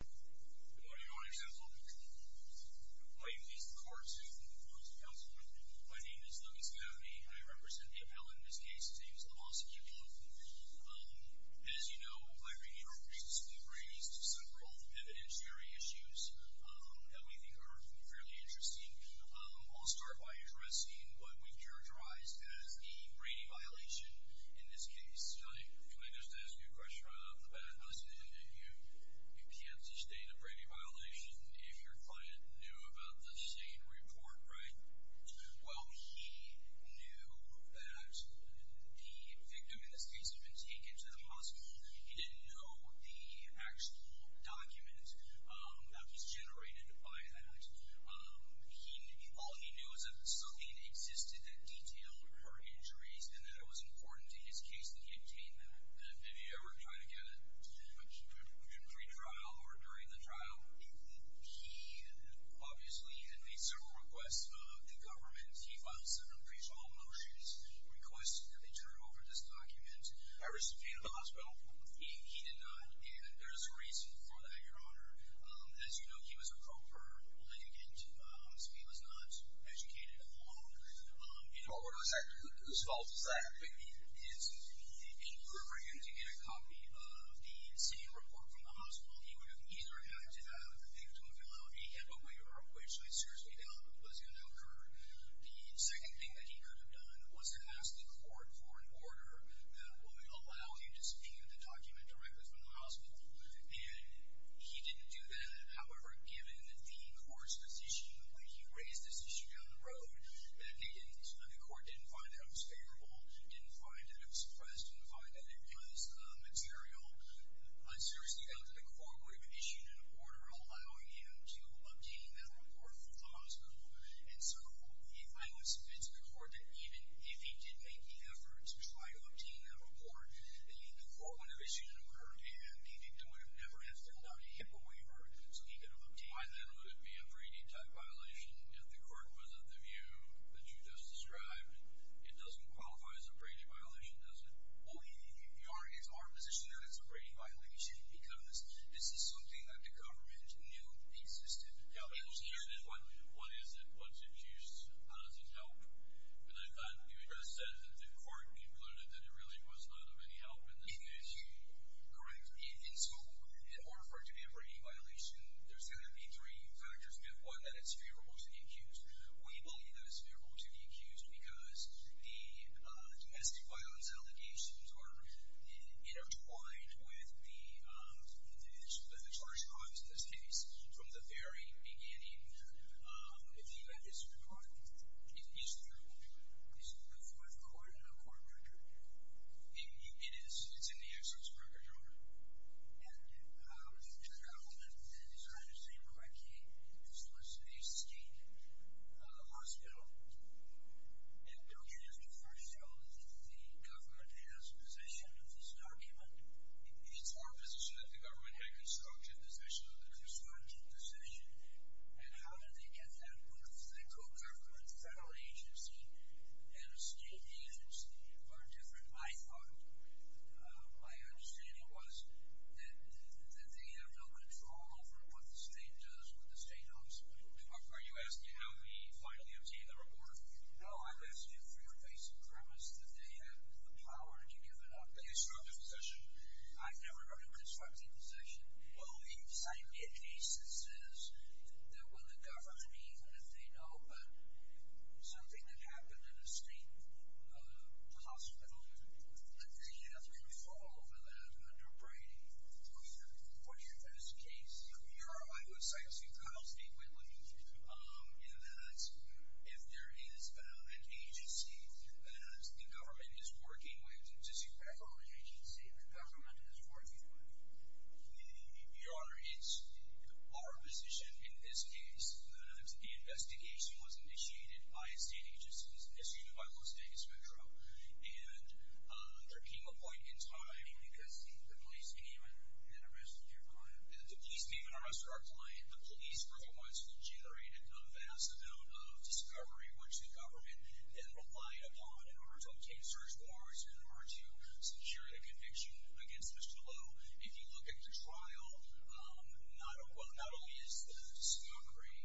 Good morning Your Honor's Counsel. My name is Lewis Maffey. I represent the appellant in this case, James Lamalskiou Lowe. As you know, my brief introduction has been raised to several evidentiary issues that we think are fairly interesting. I'll start by addressing what we've characterized as the Brady violation in this case. Your Honor, can I just ask you a question right off the bat? Listen, you can't sustain a Brady violation if your client knew about the Shane report, right? Well, he knew that the victim in this case had been taken to the hospital. He didn't know the actual document that was generated by that. All he knew was that something existed that detailed her injuries and that it was important to his case that he obtain them. Did he ever try to get a pre-trial or during the trial? He, obviously, had made several requests to the government. He filed several appraisal motions requesting that they turn over this document. I received it at the hospital. He did not, and there's a reason for that, Your Honor. As you know, he was a pro-court litigant, so he was not educated at all. Your Honor, whose fault is that? He preferred him to get a copy of the Shane report from the hospital. He would have either had to have the victim allowed to get away, or which, I seriously doubt, was going to occur. The second thing that he could have done was to ask the court for an order that would allow him to see the document directly from the hospital. And he didn't do that. However, given the court's position when he raised this issue down the road, that the court didn't find that it was favorable, didn't find that it was suppressed, didn't find that it was material, I seriously doubt that the court would have issued an order allowing him to obtain that report from the hospital. And so I would submit to the court that even if he did make the effort to try to obtain that report, the court would have issued an order, and the victim would have never had to allow him to waiver so he could have obtained it. Why then would it be a Brady-type violation if the court was of the view that you just described? It doesn't qualify as a Brady violation, does it? Well, Your Honor, it's our position that it's a Brady violation, because this is something that the government knew existed. Yeah, but what is it? What's its use? How does it help? And I thought you had just said that the court concluded that it really was not of any help in this case. Correct. And so in order for it to be a Brady violation, there's got to be three factors. We have one, that it's favorable to the accused. We believe that it's favorable to the accused because the domestic violence allegations are intertwined with the charges in this case from the very beginning, if you had his report. It is true. Is it with court or no court record? It is. It's in the access record, Your Honor. And to the argument that he's trying to say, well, I came to solicit a scheme, a hospital, and don't you just prefer to show that the government has possession of this document? It's our position that the government had constructive decision. Constructive decision. And how did they get that? Because the co-government federal agency and a state agency are different, I thought. My understanding was that they have no control over what the state does, what the state does. Are you asking how he finally obtained the report? No, I'm asking for your basic premise that they have the power to give it up. A constructive decision? I've never heard of a constructive decision. What we've decided in cases is that when the government, even if they know something that happened in a state hospital, that they have control over that under Brady. What's your best case? Your Honor, I would say, as you've kind of stated, Whitley, in that if there is an agency that the government is working with, does he prefer an agency that the government is working with? Your Honor, it's our position in this case that the investigation was initiated by a state agency, issued by Los Angeles Metro, and there came a point in time. Because the police came and arrested your client? The police came and arrested our client. The police were the ones who generated the vast amount of discovery, which the government then relied upon in order to obtain search warrants and in order to secure the conviction against Mr. Lowe. If you look at the trial, not only is the discovery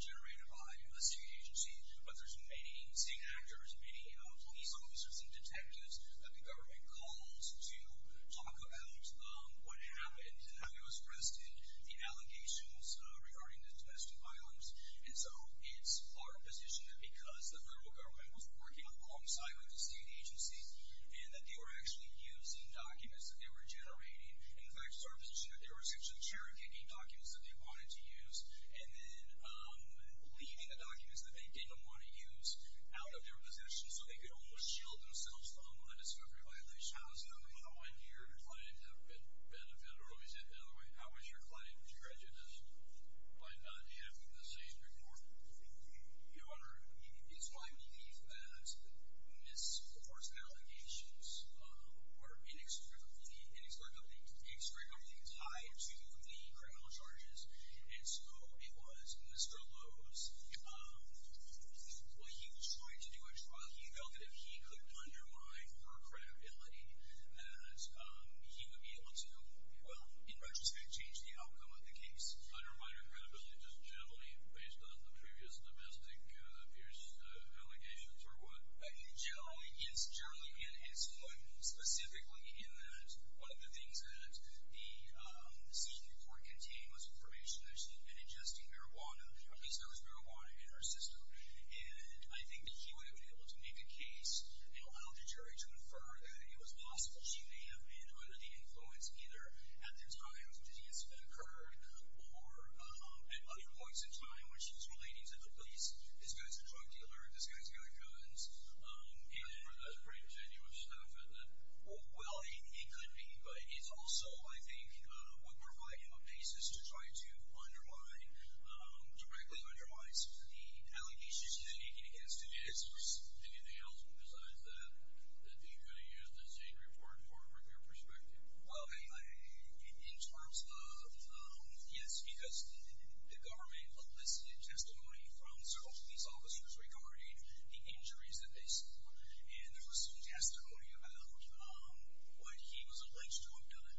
generated by a state agency, but there's many scene actors, many police officers and detectives that the government calls to talk about what happened. How he was arrested, the allegations regarding the domestic violence. And so it's our position that because the federal government was working alongside with the state agencies and that they were actually using documents that they were generating, and in fact it's our position that they were actually cherokeeing documents that they wanted to use and then leaving the documents that they didn't want to use out of their possession so they could almost shield themselves from the discovery by Leach House. So how might your client have benefited, or let me say it the other way, how was your client prejudiced by not having the same report? Your Honor, it's my belief that Miss Lowe's allegations are inextricably tied to the criminal charges. And so it was Mr. Lowe's. He tried to do a trial. He felt that if he could undermine her credibility that he would be able to, well, in retrospect, change the outcome of the case. Undermine her credibility just generally based on the previous domestic abuse allegations, or what? Generally, yes, generally. And specifically in that one of the things that the senior court contained was information that she had been ingesting marijuana. At least there was marijuana in her system. And I think that he would have been able to make a case, you know, allegory to infer that it was possible she may have been under the influence either at the time that the incident occurred or at other points in time when she was relating to the police. This guy's a drug dealer. This guy's got guns. You know, that's a pretty genuine statement that, well, it could be. But it's also, I think, would provide him a basis to try to directly undermine the allegations he's making against him. Yes, of course. Anything else besides that that you could have used as a report for your perspective? Well, in terms of, yes, because the government elicited testimony from several police officers regarding the injuries that they saw. And there was some testimony about what he was alleged to have done.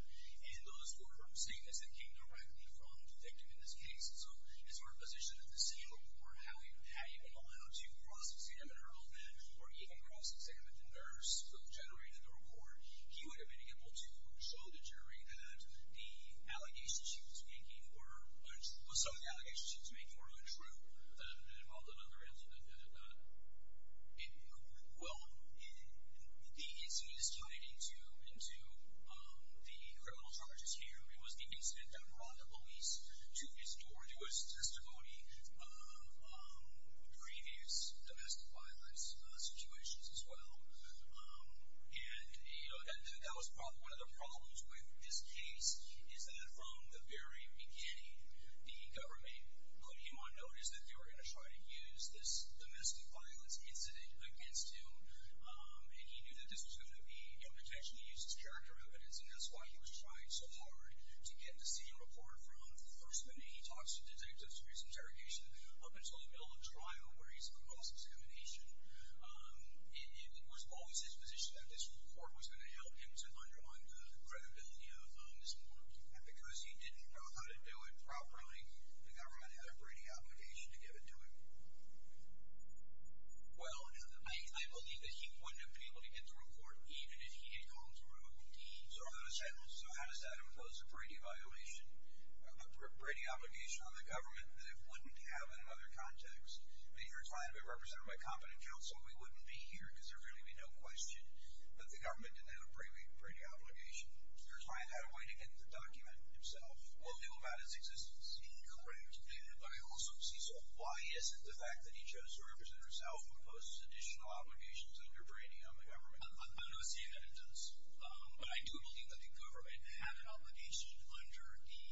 And those were from statements that came directly from the detective in this case. And so his sort of position at the senior court, how he went on to cross-examine her, or even cross-examine the nurse who generated the report, he would have been able to show the jury that the allegations she was making or some of the allegations she was making were untrue and involved another incident. Well, the incident is tied into the criminal charges here. It was the incident that brought the police to his door, to his testimony of previous domestic violence situations as well. And, you know, that was probably one of the problems with this case is that from the very beginning the government put him on notice that they were going to try to use this domestic violence incident against him. And he knew that this was going to be, you know, potentially used as character evidence. And that's why he was trying so hard to get the senior reporter from the first minute he talks to detectives through his interrogation up until the middle of trial where he's cross-examination. And it was always his position that this report was going to help him to underline the credibility of this reporter. And because he didn't know how to do it properly, the government had a Brady obligation to give it to him. Well, I believe that he wouldn't have been able to get the report even if he had called his own team. So how does that impose a Brady obligation on the government that it wouldn't have in another context? You're trying to be represented by competent counsel. We wouldn't be here because there really would be no question that the government didn't have a Brady obligation. You're trying to have a way to get the document himself. We'll know about its existence. Incorrect, David. I also see so. Why is it the fact that he chose to represent himself imposes additional obligations under Brady on the government? I'm not saying that it does. But I do believe that the government had an obligation under the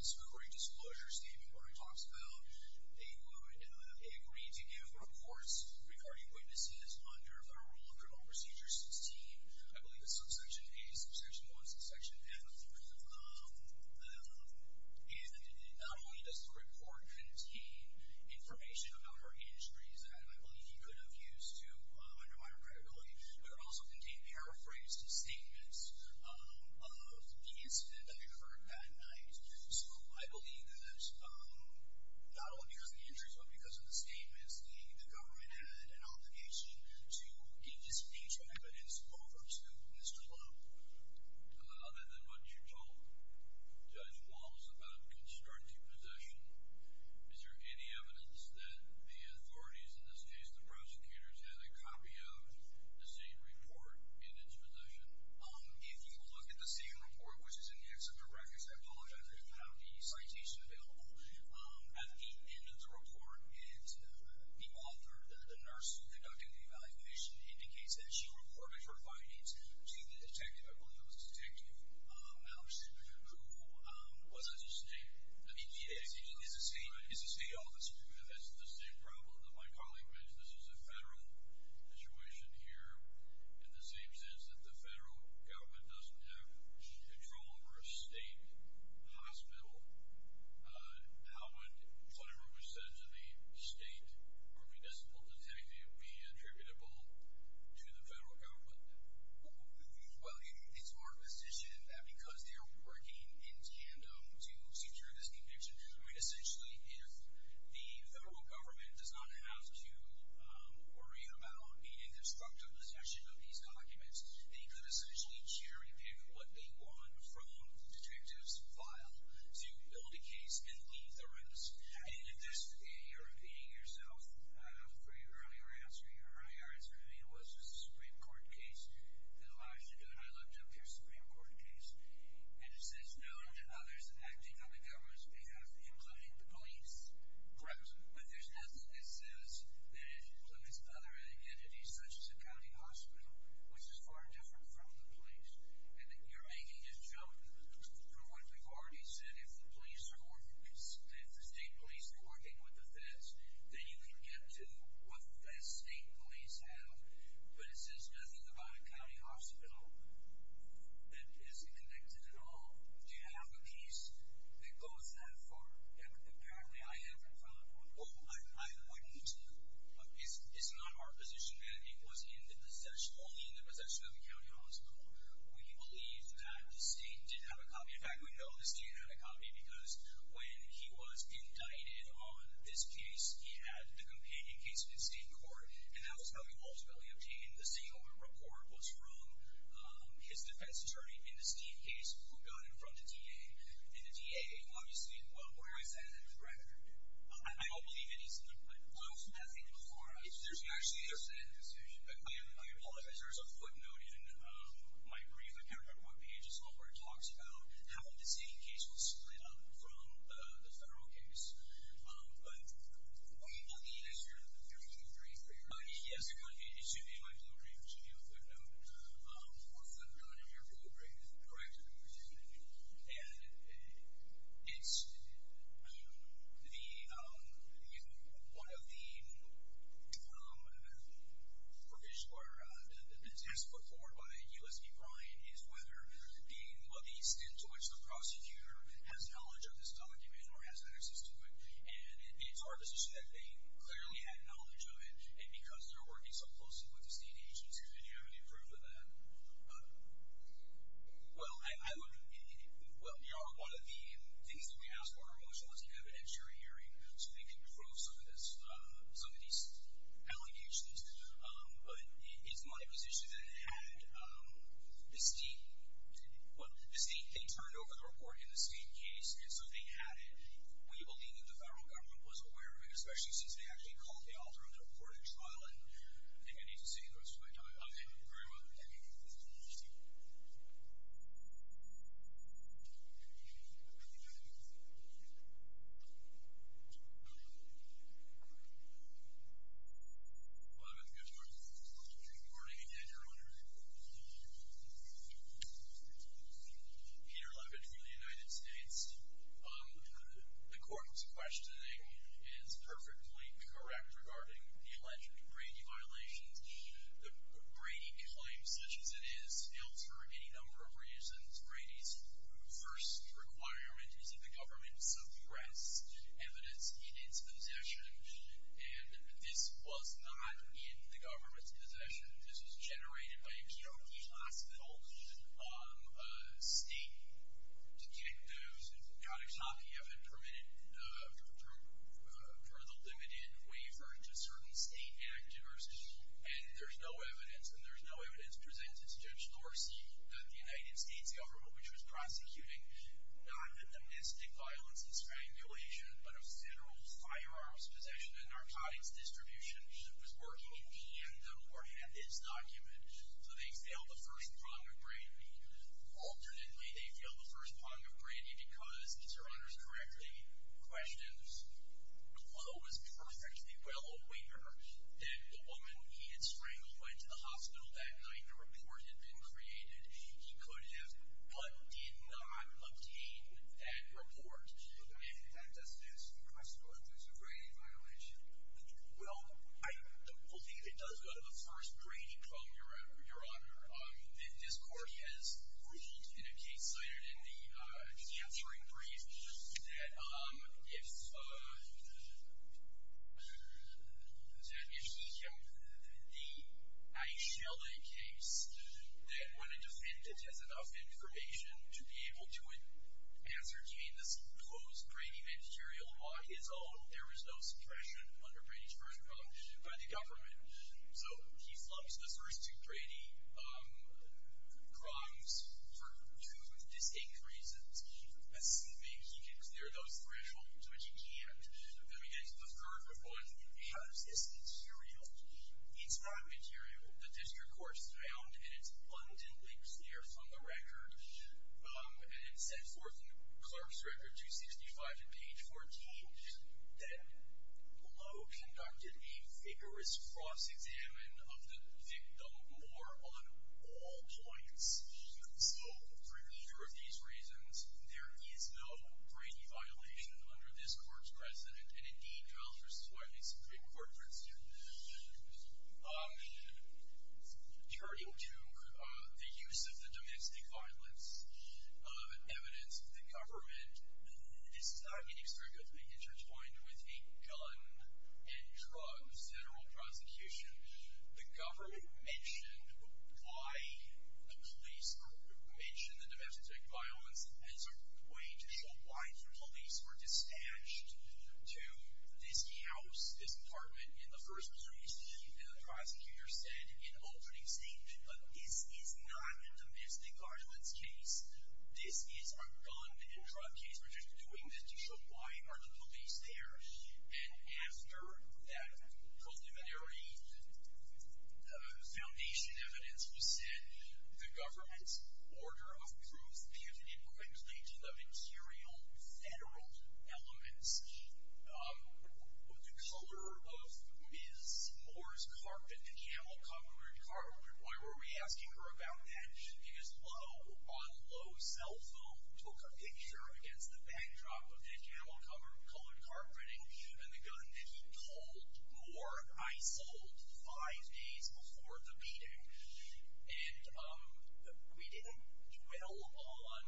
discovery disclosures statement where he talks about they would agree to give reports regarding witnesses under the rule of criminal procedure 16. I believe it's subsection A, subsection 1, subsection M. And not only does the report contain information about her injuries, and I believe he could have used to undermine her credibility, but it also contained paraphrased statements of the incident that occurred that night. So I believe that not only because of the injuries, but because of the statements, the government had an obligation to give this initial evidence over to Mr. Lowe. Other than what you told Judge Walz about a constructive possession, is there any evidence that the authorities, in this case the prosecutors, had a copy of the same report in its possession? If you look at the same report, which is in the accident records, I apologize, I didn't have the citation available. At the end of the report, the author, the nurse conducting the evaluation, indicates that she reported her findings to the detective, I believe it was Detective Ouch, who was at the state office. That's the same problem that my colleague mentioned. This is a federal situation here in the same sense that the federal government doesn't have control over a state hospital. How would whatever was said to the state or municipal detective be attributable to the federal government? Well, it's our position that because they're working in tandem to secure this conviction, essentially if the federal government does not have to worry about any constructive possession of these documents, they could essentially cherry-pick what they want from the detective's file to build a case and leave the rest. And if this is a repeating yourself for your earlier answer, your earlier answer to me was a Supreme Court case that allows you to do it, I looked up your Supreme Court case, and it says no to others acting on the government's behalf, including the police. Correct. But there's nothing that says that it includes other entities, such as a county hospital, which is far different from the police. And you're making a joke for what we've already said. If the state police are working with the feds, then you can get to what the feds, state police, have. But it says nothing about a county hospital. That isn't connected at all. Do you have a piece that goes that far? Apparently I have in front of me. Oh, I wouldn't. It's not our position that it was only in the possession of the county hospital. We believe that the state didn't have a copy. In fact, we know the state didn't have a copy because when he was indicted on this case, he had the companion case with the state court, and that was how he ultimately obtained the state court report was from his defense attorney in the state case who got it from the DA. And the DA, obviously, well, where is that threat? I don't believe any of this. Well, I was going to ask you before. Actually, there's a footnote in my brief. I can't remember what page it's on, but it talks about how the state case was split up from the federal case. But it's not the issue of the federal case. Yes, it would be. It should be in my blue brief. It should be in the footnote. Once again, I know you're a really great director. Thank you. And it's the one of the provisions or the test put forward by U.S.B. Bryant is whether being what the extent to which the prosecutor has knowledge of this document or has access to it. And it's our position that they clearly had knowledge of it, and because they're working so closely with the state agencies and have any proof of that. Well, one of the things that we asked for in our motion was an evidentiary hearing so they could prove some of these allegations. But it's my position that it had the state turned over the report in the state case, and so they had it. We believe that the federal government was aware of it, especially since they actually called the author of the report at trial, and I think I need to see the rest of my time. Thank you very much. Thank you. Thank you. Well, I'm going to go to our next witness. Good morning, again, everyone. Peter Levin from the United States. The court's questioning is perfectly correct regarding the alleged Brady violations. Brady claims such as it is held for any number of reasons. Brady's first requirement is that the government suppress evidence in its possession, and this was not in the government's possession. This was generated by a Kentucky hospital state to get those narcotics out. You haven't permitted further limited waiver to certain state actors, and there's no evidence, and there's no evidence presented to Judge Dorsey that the United States government, which was prosecuting not of domestic violence and strangulation but of federal firearms possession that the narcotics distribution was working, and the court had this document. So they failed the first prong of Brady. Alternately, they failed the first prong of Brady because, if your honor is correct, the question is, Clow was perfectly well aware that the woman he had strangled went to the hospital that night. The report had been created. He could have but did not obtain that report. If that doesn't answer your question, what if there's a Brady violation? Well, the whole thing, if it does go to the first Brady prong, your honor, this court has, in a case cited in the capturing brief, that if the Aishella case, that when a defendant has enough information to be able to ascertain this close Brady material on his own, there is no suppression under Brady's first prong by the government. So he slumps the first two Brady prongs for two distinct reasons. Assuming he can clear those thresholds, which he can't, then we get to the third one. How is this material? It's not material. The district court's found, and it's abundantly clear from the record, and it's set forth in Clark's Record 265 at page 14, that Clow conducted a vigorous cross-examination of the victim more on all points. So for neither of these reasons, there is no Brady violation under this court's precedent, and, indeed, trial versus witness is a great court precedent. Turning to the use of the domestic violence evidence, the government is not inexplicably intertwined with a gun and drugs general prosecution. The government mentioned why the police mentioned the domestic violence as a way to show why the police were dispatched to this house, this apartment. In the first case, the prosecutor said in an opening statement, this is not a domestic violence case. This is a gun and drug case. We're just doing this to show why are the police there. And after that preliminary foundation evidence was sent, the government's order of proof pivoted quickly to the material federal elements, the color of Ms. Moore's carpet, the camel-covered carpet. Why were we asking her about that? Because Clow, on low cell phone, took a picture against the backdrop of the camel-colored carpeting and the gun that he called Moore and Isolde five days before the meeting. And we didn't dwell on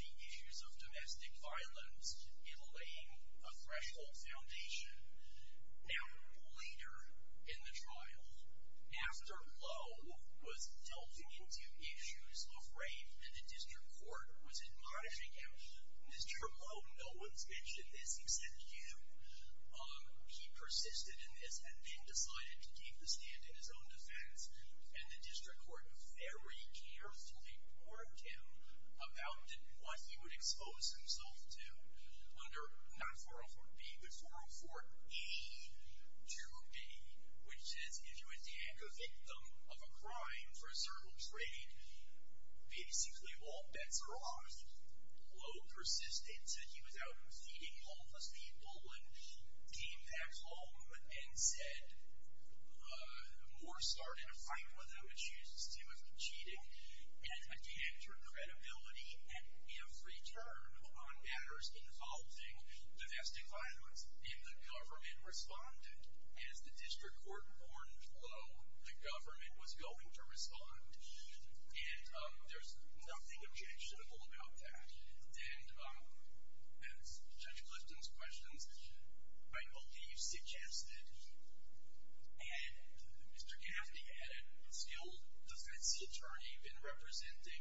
the issues of domestic violence in laying a threshold foundation. Now, later in the trial, after Clow was delving into issues of rape, the district court was admonishing him. Mr. Clow, no one's mentioned this except you. He persisted in this and then decided to keep the stand in his own defense. And the district court very carefully warned him about what he would expose himself to under not 404B but 404E2B, which says if you attack a victim of a crime for a certain trade, basically all bets are off. Clow persisted, said he was out feeding homeless people and came back home and said Moore started a fight with him, accused him of cheating, and attacked her credibility at every turn on matters involving domestic violence. And the government responded. As the district court warned Clow, the government was going to respond. And there's nothing objectionable about that. And as Judge Clifton's questions, I know he suggested and Mr. Gaffney had a skilled defense attorney been representing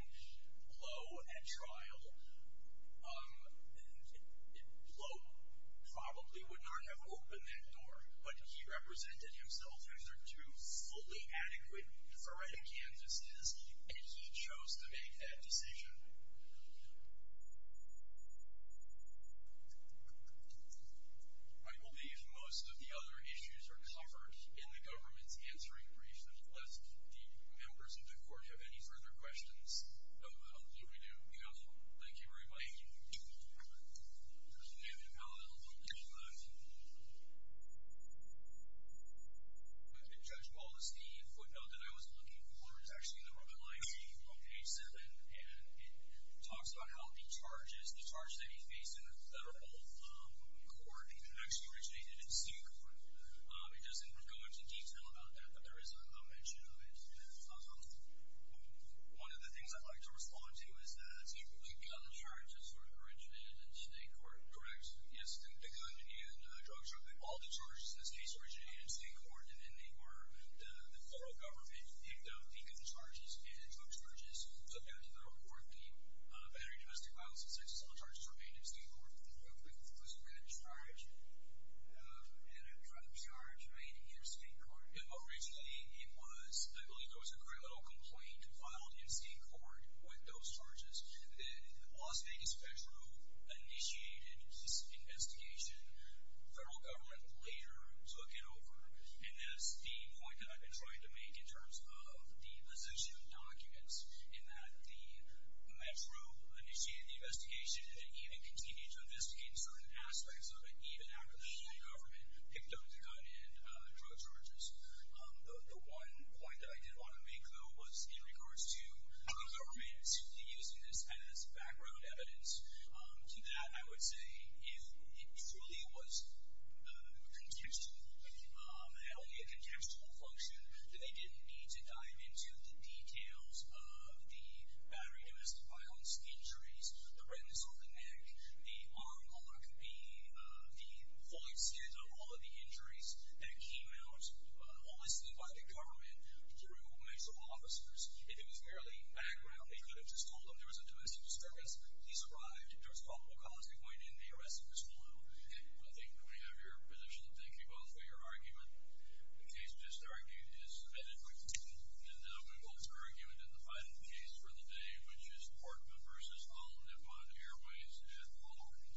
Clow at trial. Clow probably would not have opened that door, but he represented himself as a true, fully adequate for writing canvases, and he chose to make that decision. I believe most of the other issues are covered in the government's answering brief. Do members of the court have any further questions? I believe we do. Thank you, everybody. There's a hand in the aisle. I'll go to Judge Clifton. Judge Ball, this is the footnote that I was looking for. It's actually in the rubble I see from page 7, and it talks about how the charges, the charges that he faced in the federal court, actually originated in secret. It doesn't go into detail about that, but there is a mention of it. One of the things I'd like to respond to is that you've got the charges that sort of originated in state court, correct? Yes, the gun and drug trafficking. All the charges in this case originated in state court, and they were the federal government picked up the gun charges and drug charges. So, back in 2014, battery domestic violence and sex assault charges were made in state court. There was a gun charge, and a drug charge made in state court. Originally, it was, I believe there was a criminal complaint filed in state court with those charges. The Las Vegas Metro initiated this investigation. Federal government later took it over, and that's the point that I've been trying to make in terms of the position of documents in that the Metro initiated the investigation and didn't even continue to investigate certain aspects of it, even after the federal government picked up the gun and drug charges. The one point that I did want to make, though, was in regards to the government using this as background evidence. To that, I would say if it truly was contextual, had only a contextual function, then they didn't need to dive into the details of the battery domestic violence injuries, the redness on the neck, the arm mark, the full extent of all of the injuries that came out, all this thing by the government through a mix of officers. If it was merely background, they could have just told them there was a domestic disturbance, police arrived, there was a couple of calls that went in, the arresting was flown over. I think we have your position. Thank you both for your argument. The case just argued is vetted. And now we move on to our argument in the final case for the day, which is Portman v. Holland upon Airways at Long Island.